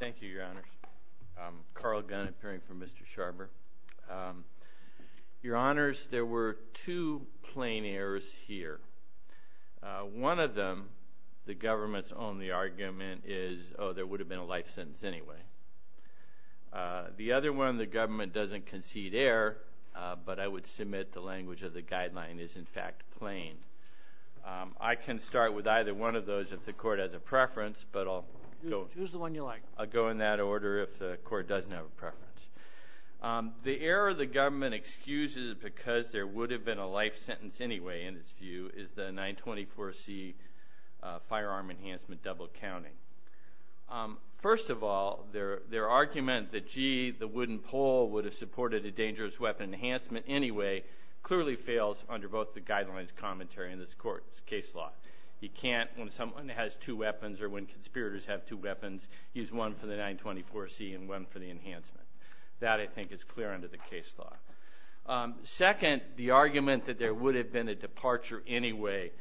Thank you, Your Honors. Carl Gunn, appearing for Mr. Scharber. Your Honors, there were two plain errors here. One of them, the government's only argument is, oh, there would have been a life sentence anyway. The other one, the government doesn't concede error, but I would submit the language of the guideline is, in fact, plain. I can start with either one of preference, but I'll go in that order if the court doesn't have a preference. The error the government excuses because there would have been a life sentence anyway, in its view, is the 924C firearm enhancement double counting. First of all, their argument that, gee, the wooden pole would have supported a dangerous weapon enhancement anyway, clearly fails under both the guidelines commentary in this court's case law. You can't, when someone has two weapons or when conspirators have two weapons, use one for the 924C and one for the enhancement. That, I think, is clear under the case law. Second, the argument that there would have been a departure anyway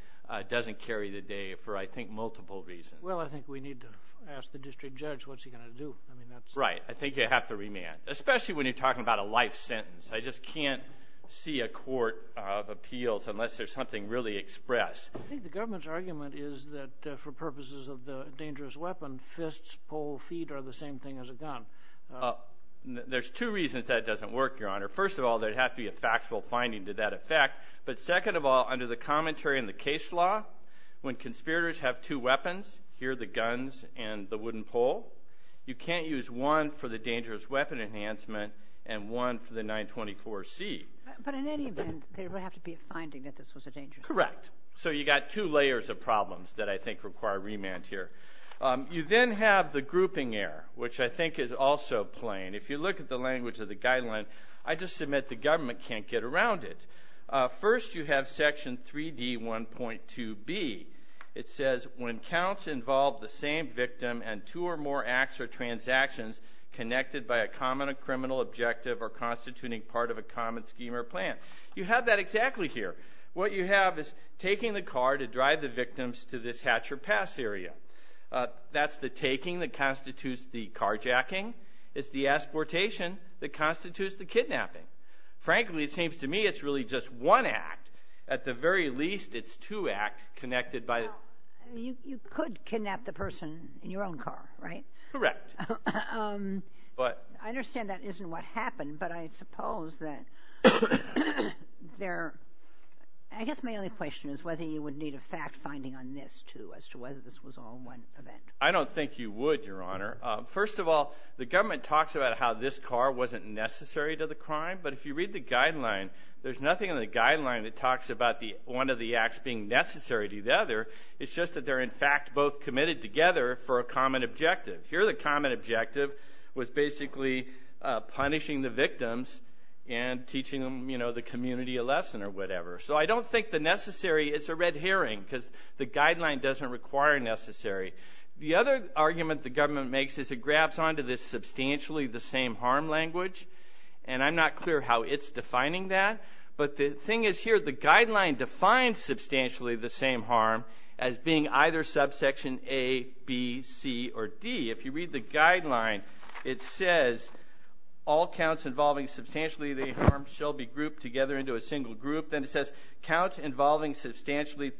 doesn't carry the day for, I think, multiple reasons. Well, I think we need to ask the district judge what's he going to do. I mean, that's Right. I think you have to remand, especially when you're talking about a life sentence. I just can't see a court of appeals unless there's something really expressed. I think the government's argument is that, for purposes of the dangerous weapon, fists, pole, feet are the same thing as a gun. There's two reasons that doesn't work, Your Honor. First of all, there'd have to be a factual finding to that effect. But second of all, under the commentary in the case law, when conspirators have two weapons, here are the guns and the wooden pole, you can't use one for the dangerous weapon enhancement and one for the 924C. But in any event, there would have to be a finding that this was a dangerous weapon. Correct. So you've got two layers of problems that I think require remand here. You then have the grouping error, which I think is also plain. If you look at the language of the guideline, I just submit the government can't get around it. First you have section 3D1.2B. It says, when counts involve the same victim and two or more acts or transactions connected by a common criminal objective or constituting part of a common scheme or plan. You have that exactly here. What you have is taking the car to drive the victims to this hatch or pass area. That's the taking that constitutes the carjacking. It's the exportation that constitutes the kidnapping. Frankly, it seems to me it's really just one act. At the very least, it's two acts connected by the... Well, you could kidnap the person in your own car, right? Correct. I understand that isn't what happened, but I suppose that there... I guess my only question is whether you would need a fact finding on this, too, as to whether this was all one event. I don't think you would, Your Honor. First of all, the government talks about how this car wasn't necessary to the crime. But if you read the guideline, there's nothing in the other. It's just that they're, in fact, both committed together for a common objective. Here the common objective was basically punishing the victims and teaching the community a lesson or whatever. So I don't think the necessary is a red herring, because the guideline doesn't require necessary. The other argument the government makes is it grabs onto this substantially the same harm language. And I'm not clear how it's defining that. But the thing is here, the harm as being either subsection A, B, C, or D. If you read the guideline, it says all counts involving substantially the harm shall be grouped together into a single group. Then it says counts involving substantially...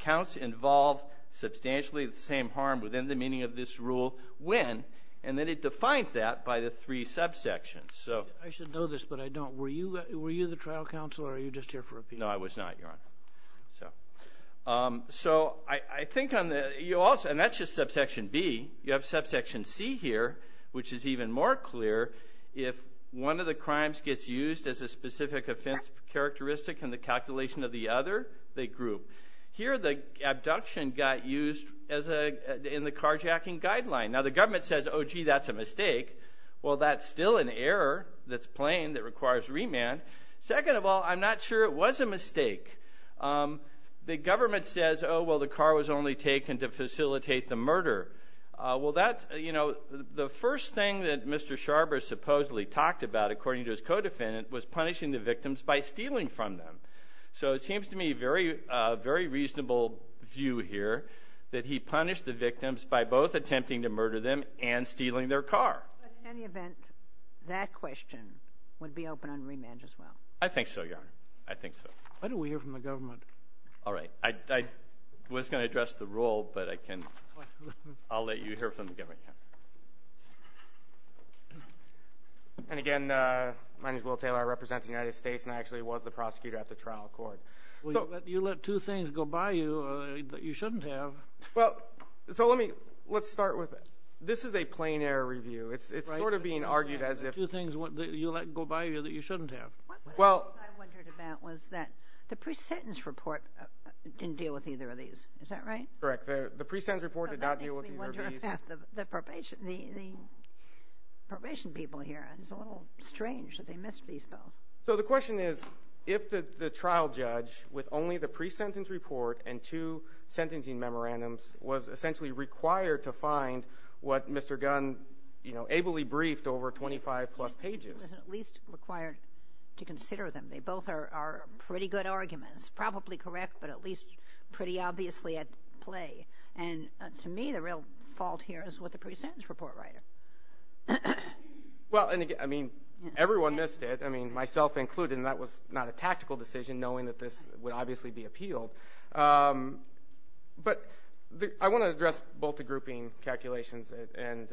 Counts involve substantially the same harm within the meaning of this rule when... And then it defines that by the three subsections. So... I should know this, but I don't. Were you the trial counsel or are you just here for opinion? No, I was not, Your Honor. So I think on the... And that's just subsection B. You have subsection C here, which is even more clear. If one of the crimes gets used as a specific offense characteristic in the calculation of the other, they group. Here the abduction got used in the carjacking guideline. Now the government says, oh, gee, that's a mistake. Well, that's still an error that's plain that requires remand. Second of all, I'm not sure it was a mistake. The government says, oh, well, the car was only taken to facilitate the murder. Well, that's... The first thing that Mr. Sharber supposedly talked about, according to his co-defendant, was punishing the victims by stealing from them. So it seems to me a very reasonable view here that he punished the victims by both attempting to murder them and stealing their car. But in any event, that question would be open on remand as well. I think so, Your Honor. I think so. Why don't we hear from the government? All right. I was going to address the rule, but I can... I'll let you hear from the government. And again, my name is Will Taylor. I represent the United States and I actually was the prosecutor at the trial court. Well, you let two things go by you that you shouldn't have. Well, so let me... Let's start with... This is a plain error review. It's sort of being argued as if... Two things that you let go by you that you shouldn't have. Well... What I wondered about was that the pre-sentence report didn't deal with either of these. Is that right? Correct. The pre-sentence report did not deal with either of these. Well, that makes me wonder about the probation people here. It's a little strange that they missed these both. So the question is, if the trial judge, with only the pre-sentence report and two sentencing memorandums, was essentially required to find what Mr. Gunn, you know, ably briefed over 25 plus pages... He was at least required to consider them. They both are pretty good arguments. Probably correct, but at least pretty obviously at play. And to me, the real fault here is with the pre-sentence report writer. Well, I mean, everyone missed it. I mean, myself included. And that was not a tactical decision knowing that this would obviously be appealed. But I want to address both the grouping calculations and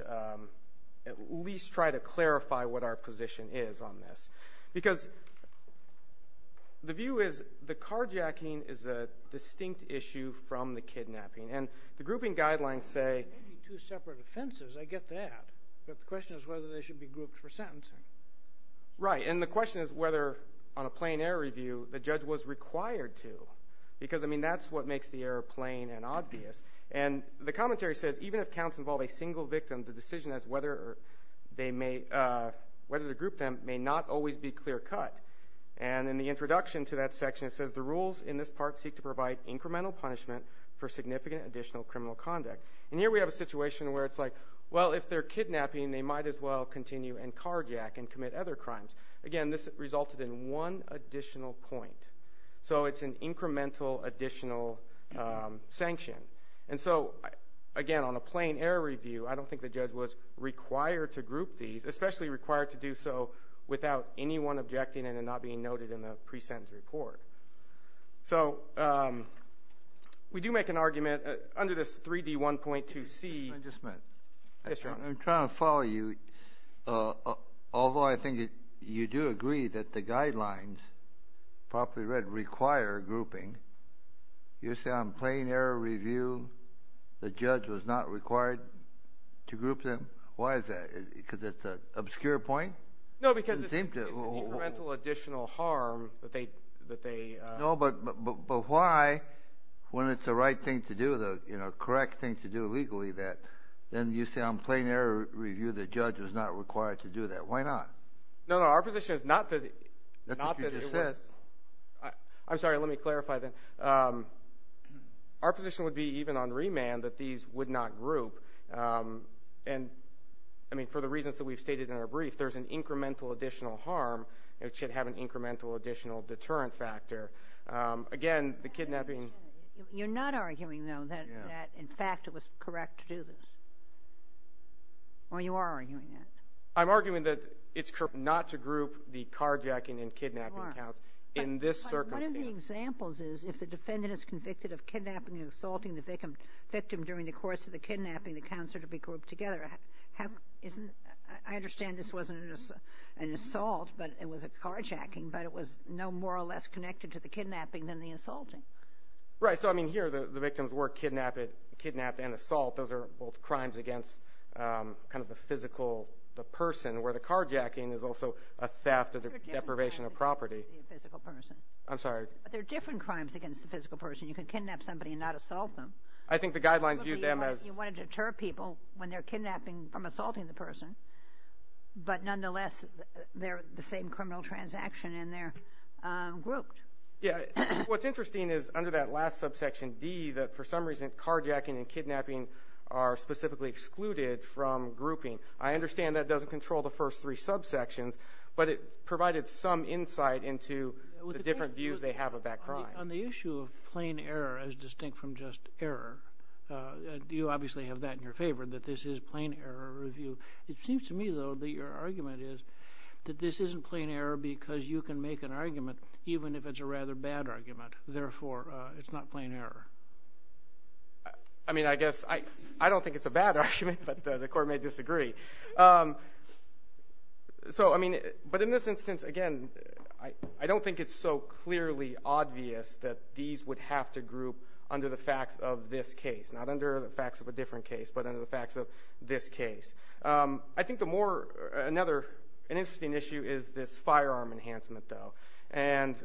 at least try to clarify what our position is on this. Because the view is the carjacking is a distinct issue from the kidnapping. And the grouping guidelines say... Maybe two separate offenses. I get that. But the question is whether they should be grouped for sentencing. Right. And the question is whether, on a plain error review, the judge was required to. Because, I mean, that's what makes the error plain and obvious. And the commentary says, even if counts involve a single victim, the decision as to whether to group them may not always be clear-cut. And in the introduction to that section, it says, the rules in this part seek to provide incremental punishment for significant additional criminal conduct. And here we have a situation where it's like, well, if they're kidnapping, they might as well continue and carjack and commit other crimes. Again, this resulted in one additional point. So it's an incremental additional sanction. And so, again, on a plain error review, I don't think the judge was required to group these, especially required to do so without anyone objecting and then not being noted in the pre-sentence report. So we do make an argument under this 3D1.2C... Although I think you do agree that the guidelines, properly read, require grouping, you say on plain error review, the judge was not required to group them? Why is that? Because it's an obscure point? No, because it's an incremental additional harm that they... No, but why, when it's the right thing to do, the correct thing to do legally, that you say on plain error review, the judge was not required to do that? Why not? No, no. Our position is not that it was... That's what you just said. I'm sorry. Let me clarify then. Our position would be, even on remand, that these would not group. And, I mean, for the reasons that we've stated in our brief, there's an incremental additional harm that should have an incremental additional deterrent factor. Again, the kidnapping... You're not arguing, though, that, in fact, it was correct to do this? Or you are arguing that? I'm arguing that it's correct not to group the carjacking and kidnapping counts in this circumstance. But one of the examples is, if the defendant is convicted of kidnapping and assaulting the victim during the course of the kidnapping, the counts are to be grouped together. I understand this wasn't an assault, but it was a carjacking, but it was no more or less connected to the kidnapping. Right. So, I mean, here, the victims were kidnapped and assaulted. Those are both crimes against kind of the physical person, where the carjacking is also a theft or deprivation of property. But they're different crimes against the physical person. You can kidnap somebody and not assault them. I think the guidelines view them as... You want to deter people when they're kidnapping from assaulting the person, but, nonetheless, they're the same criminal transaction, and they're grouped. Yeah. What's interesting is, under that last subsection, D, that, for some reason, carjacking and kidnapping are specifically excluded from grouping. I understand that doesn't control the first three subsections, but it provided some insight into the different views they have of that crime. On the issue of plain error as distinct from just error, you obviously have that in your favor, that this is plain error review. It seems to me, though, that your argument is that this isn't plain error because you can make an argument, even if it's a rather bad argument. Therefore, it's not plain error. I mean, I guess I don't think it's a bad argument, but the Court may disagree. So, I mean, but in this instance, again, I don't think it's so clearly obvious that these would have to group under the facts of this case, not under the facts of a different case, but under the facts of this case. I think the more, another, an interesting issue is this firearm enhancement, though. And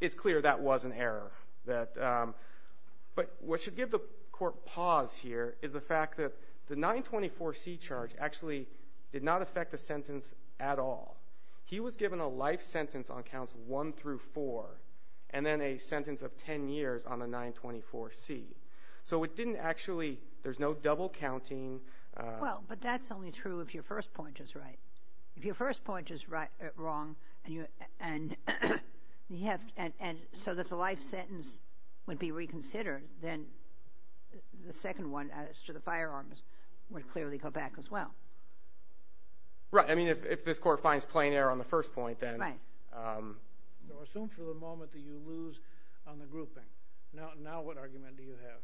it's clear that was an error. But what should give the Court pause here is the fact that the 924C charge actually did not affect the sentence at all. He was given a life sentence on counts 1 through 4, and then a sentence of 10 years on the 924C. So it didn't actually, there's no double counting. Well, but that's only true if your first point is right. If your first point is wrong, and so that the life sentence would be reconsidered, then the second one as to the firearms would clearly go back as well. Right. I mean, if this Court finds plain error on the first point, then... Right. Assume for the moment that you lose on the grouping. Now what argument do you have?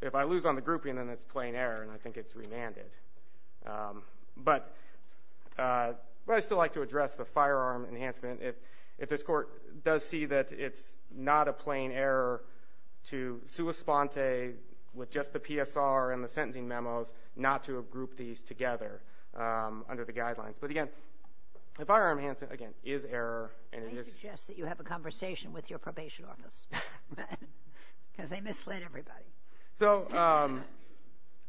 If I lose on the grouping, then it's plain error, and I think it's remanded. But I'd still like to address the firearm enhancement. If this Court does see that it's not a plain error to sua sponte with just the PSR and the sentencing memos, not to have grouped these together under the guidelines. But again, the firearm enhancement, again, is error, and it is... So,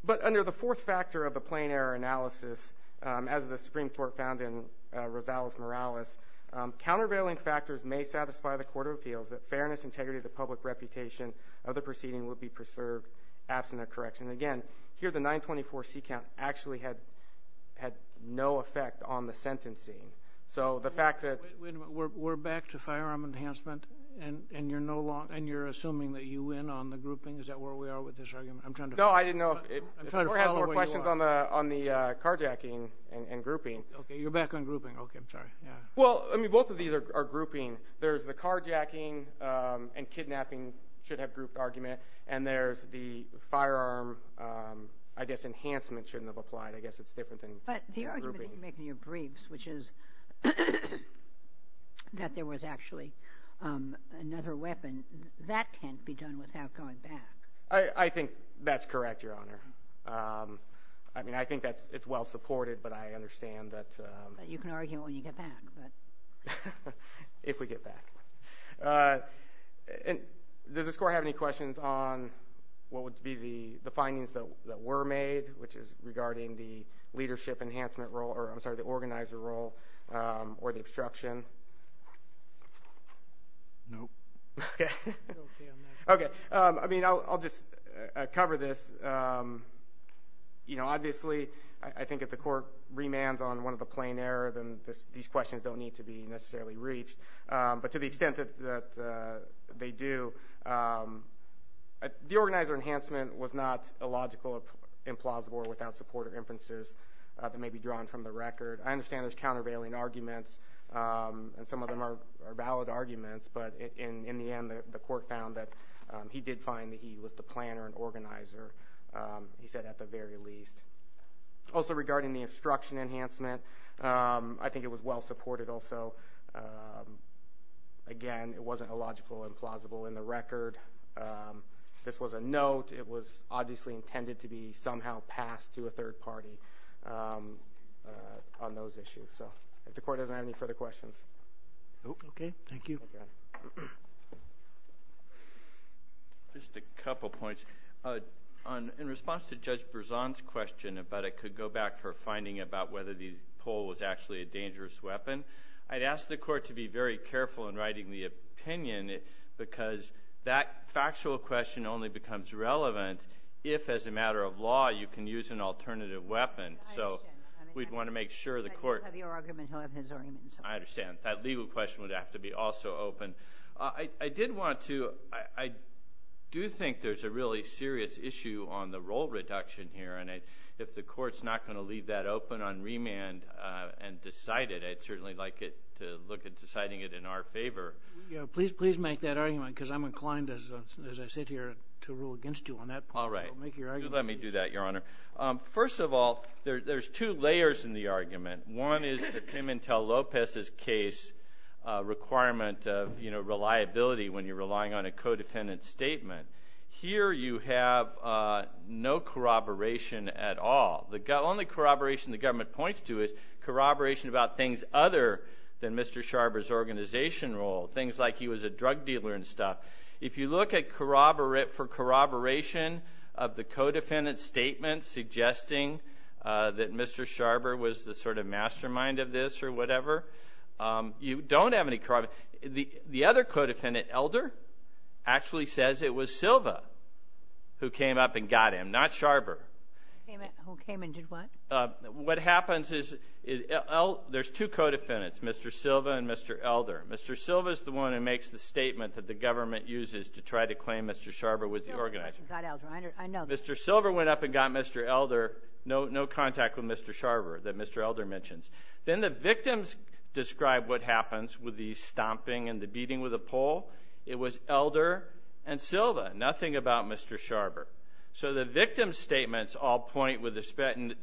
but under the fourth factor of the plain error analysis, as the Supreme Court found in Rosales-Morales, countervailing factors may satisfy the Court of Appeals that fairness, integrity, the public reputation of the proceeding would be preserved absent a correction. Again, here the 924C count actually had no effect on the sentencing. So the fact that... We're back to firearm enhancement, and you're no longer, and you're assuming that you win on the grouping? Is that where we are with this argument? I'm trying to... No, I didn't know if... I'm trying to follow where you are. If the Court has more questions on the carjacking and grouping... Okay, you're back on grouping. Okay, I'm sorry. Yeah. Well, I mean, both of these are grouping. There's the carjacking and kidnapping should have grouped argument, and there's the firearm, I guess, enhancement shouldn't have applied. I guess it's different than grouping. But the argument that you make in your briefs, which is that there was actually another weapon, that can't be done without going back. I think that's correct, Your Honor. I mean, I think it's well-supported, but I understand that... You can argue it when you get back, but... If we get back. Does this Court have any questions on what would be the findings that were made, which is regarding the leadership enhancement role, or I'm sorry, the organizer role, or the obstruction? No. Okay. I mean, I'll just cover this. You know, obviously, I think if the Court remands on one of the plain error, then these questions don't need to be necessarily reached. But to the extent that they do, the organizer enhancement was not illogical, implausible, or without support or inferences that may be drawn from the record. I understand there's countervailing arguments, and some of them are valid arguments, but in the end, the Court found that he did find that he was the planner and organizer, he said at the very least. Also, regarding the obstruction enhancement, I think it was well-supported also. Again, it wasn't illogical, implausible in the record. This was a note. It was obviously intended to be somehow passed to a third party on those issues. So, if the Court doesn't have any further questions... Okay. Thank you. Just a couple points. In response to Judge Berzon's question about it could go back for finding about whether the pole was actually a dangerous weapon, I'd ask the Court to be very careful in writing the opinion because that factual question only becomes relevant if, as a matter of law, you can use an alternative weapon. So, we'd want to make sure the Court... But he'll have your argument, he'll have his argument. I understand. That legal question would have to be also open. I did want to... I do think there's a really serious issue on the role reduction here and if the Court's not going to leave that open on remand and decide it, I'd certainly like it to look at deciding it in our favor. Please make that argument because I'm inclined, as I sit here, to rule against you on that point. All right. So, make your argument. Let me do that, Your Honor. First of all, there's two layers in the argument. One is the Pimentel-Lopez's case requirement of reliability when you're relying on a co-defendant statement. Here, you have no corroboration at all. The only corroboration the government points to is corroboration about things other than Mr. Sharber's organization role, things like he was a drug dealer and stuff. If you look for corroboration of the co-defendant statement suggesting that Mr. Sharber was the sort of mastermind of this or whatever, you don't have any corroboration. The other co-defendant, Elder, actually says it was Silva who came up and got him, not Sharber. Who came and did what? What happens is... There's two co-defendants, Mr. Silva and Mr. Elder. Mr. Silva's the one who makes the statement that the government uses to try to claim Mr. Sharber was the organizer. Mr. Silva went up and got Elder. No contact with Mr. Sharber that Mr. Elder mentions. Then the victims describe what happens with the stomping and the beating with a pole. It was Elder and Silva. Nothing about Mr. Sharber. So the victims' statements all point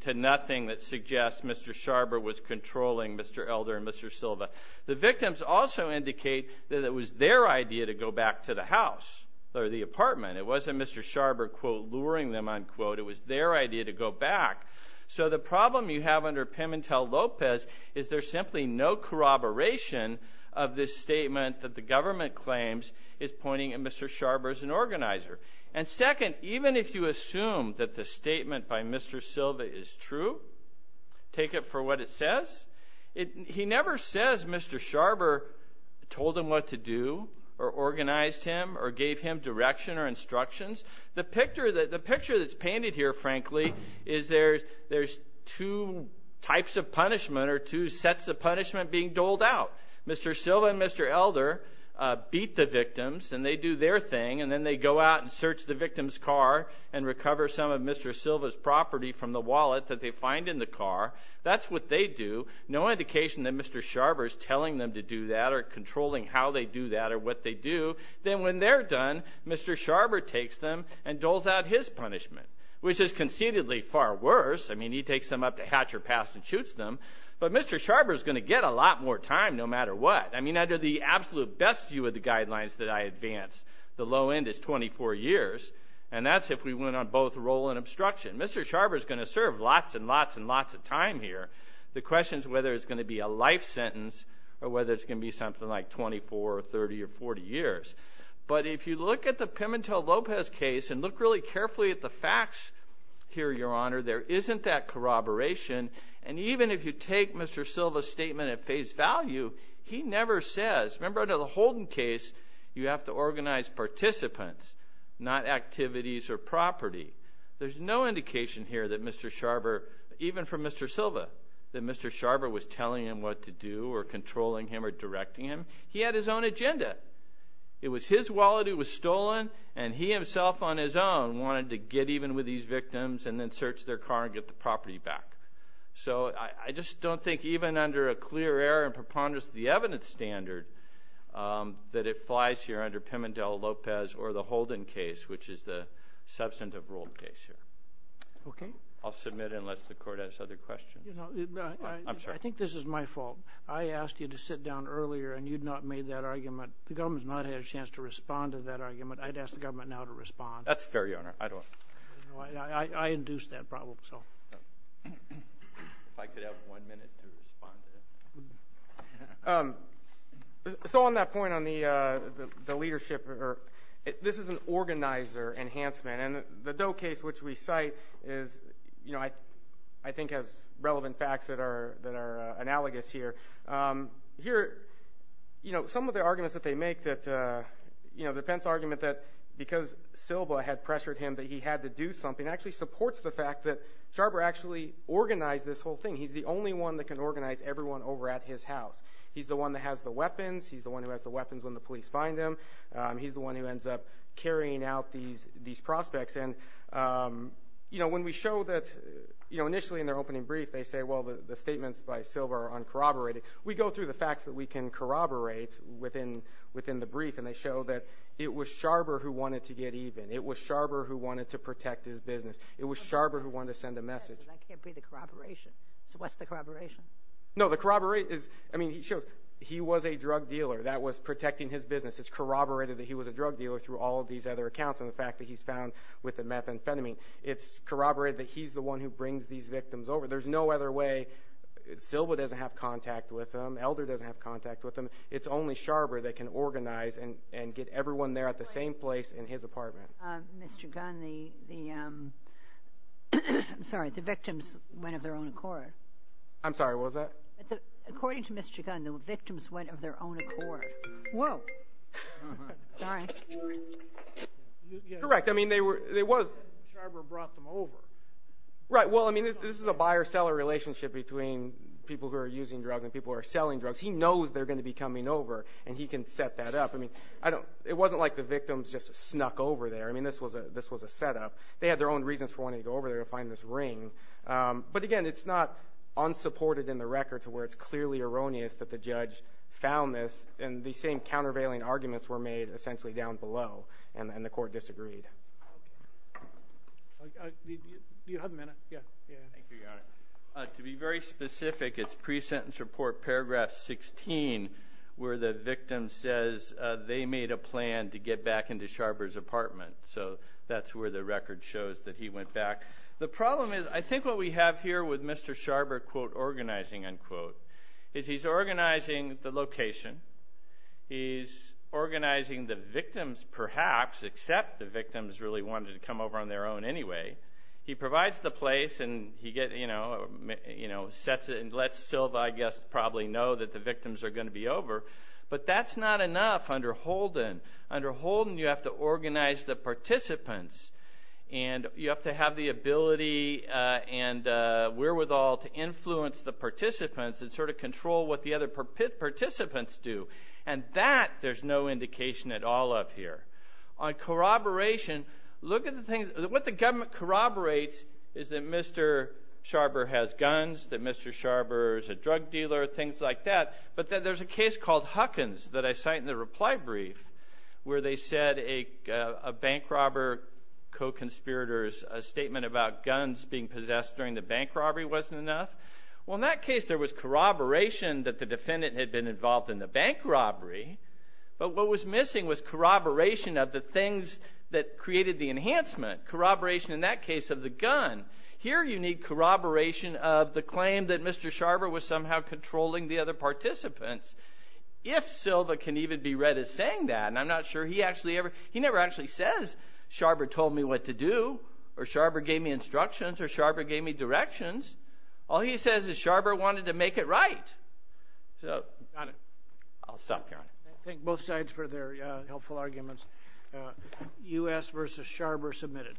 to nothing that suggests Mr. Sharber was controlling Mr. Elder and Mr. Silva. The victims also indicate that it was their idea to go back to the house or the apartment. It wasn't Mr. Sharber, quote, luring them, unquote. It was their idea to go back. So the problem you have under Pimintel-Lopez is there's simply no corroboration of this statement that the government claims is pointing at Mr. Sharber as an organizer. And second, even if you assume that the statement by Mr. Silva is true, take it for what it says, he never says Mr. Sharber told him what to do or organized him or gave him direction or instructions. The picture that's painted here, frankly, is there's two types of punishment or two sets of punishment being doled out. Mr. Silva and Mr. Elder beat the victims and they do their thing and then they go out and search the victim's car and recover some of Mr. Silva's property from the wallet that they find in the car. That's what they do. No indication that Mr. Sharber is telling them to do that or controlling how they do that or what they do. Then when they're done, Mr. Sharber takes them and doles out his punishment, which is conceitedly far worse. I mean, he takes them up to Hatcher Pass and shoots them, but Mr. Sharber is going to get a lot more time no matter what. I mean, under the absolute best view of the guidelines that I advance, the low end is 24 years and that's if we went on both roll and obstruction. Mr. Sharber is going to serve lots and lots and lots of time here. The question is whether it's going to be a life sentence or whether it's going to be something like 24 or 30 or 40 years. But if you look at the Pimentel-Lopez case and look really carefully at the facts here, Your Honor, there isn't that corroboration. And even if you take Mr. Silva's statement at face value, he never says. Remember under the Holden case, you have to organize participants, not activities or property. There's no indication here that Mr. Sharber, even from Mr. Silva, that Mr. Sharber was telling him what to do or controlling him or directing him. He had his own agenda. It was his wallet that was stolen and he himself on his own wanted to get even with these victims and then search their car and get the property back. So I just don't think even under a clear error and preponderance of the evidence standard that it flies here under Pimentel-Lopez or the Holden case, which is the substantive ruled case here. Okay. I'll submit it unless the Court has other questions. I think this is my fault. I asked you to sit down earlier and you'd not made that argument. The government's not had a chance to respond to that argument. I'd ask the government now to respond. That's fair, Your Honor. I induced that problem. If I could have one minute to respond to that. So on that point on the leadership, this is an organizer enhancement. And the Doe case, which we cite, I think has relevant facts that are analogous here. Here, some of the arguments that they make, the Pence argument that because Silva had pressured him that he had to do something actually supports the fact that Sharper actually organized this whole thing. He's the only one that can organize everyone over at his house. He's the one that has the weapons. He's the one who has the weapons when the police find him. He's the one who ends up carrying out these prospects. And when we show that initially in their opening brief, they say, well, the statements by Silva are uncorroborated. We go through the facts that we can corroborate within the brief, and they show that it was Sharper who wanted to get even. It was Sharper who wanted to protect his business. It was Sharper who wanted to send a message. That can't be the corroboration. So what's the corroboration? No, the corroboration is, I mean, it shows he was a drug dealer. That was protecting his business. It's corroborated that he was a drug dealer through all of these other accounts and the fact that he's found with the methamphetamine. It's corroborated that he's the one who brings these victims over. There's no other way. Silva doesn't have contact with him. Elder doesn't have contact with him. It's only Sharper that can organize and get everyone there at the same place in his apartment. Mr. Gunn, the victims went of their own accord. I'm sorry, what was that? According to Mr. Gunn, the victims went of their own accord. Whoa. Sorry. Correct. Sharper brought them over. Right, well, I mean, this is a buyer-seller relationship between people who are using drugs and people who are selling drugs. He knows they're going to be coming over, and he can set that up. I mean, it wasn't like the victims just snuck over there. I mean, this was a setup. They had their own reasons for wanting to go over there and find this ring. But again, it's not unsupported in the record to where it's clearly erroneous that the judge found this, and the same countervailing arguments were made essentially down below, and the court disagreed. Do you have a minute? Yeah. Thank you, Your Honor. To be very specific, it's pre-sentence report paragraph 16 where the victim says they made a plan to get back into Sharper's apartment. So that's where the record shows that he went back. The problem is I think what we have here with Mr. Sharper, quote, organizing, unquote, is he's organizing the location. He's organizing the victims perhaps, except the victims really wanted to come over on their own anyway. He provides the place, and he sets it and lets Silva, I guess, probably know that the victims are going to be over. But that's not enough under Holden. Under Holden, you have to organize the participants, and you have to have the ability and wherewithal to influence the participants and sort of control what the other participants do, and that there's no indication at all of here. On corroboration, look at the things. What the government corroborates is that Mr. Sharper has guns, that Mr. Sharper is a drug dealer, things like that, but there's a case called Huckins that I cite in the reply brief where they said a bank robber co-conspirator's statement about guns being possessed during the bank robbery wasn't enough. Well, in that case there was corroboration that the defendant had been involved in the bank robbery, but what was missing was corroboration of the things that created the enhancement, corroboration in that case of the gun. Here you need corroboration of the claim that Mr. Sharper was somehow controlling the other participants. If Silva can even be read as saying that, and I'm not sure he actually ever, he never actually says, Sharper told me what to do, or Sharper gave me instructions, or Sharper gave me directions. All he says is Sharper wanted to make it right. Got it. I'll stop here. Thank both sides for their helpful arguments. U.S. v. Sharper submitted.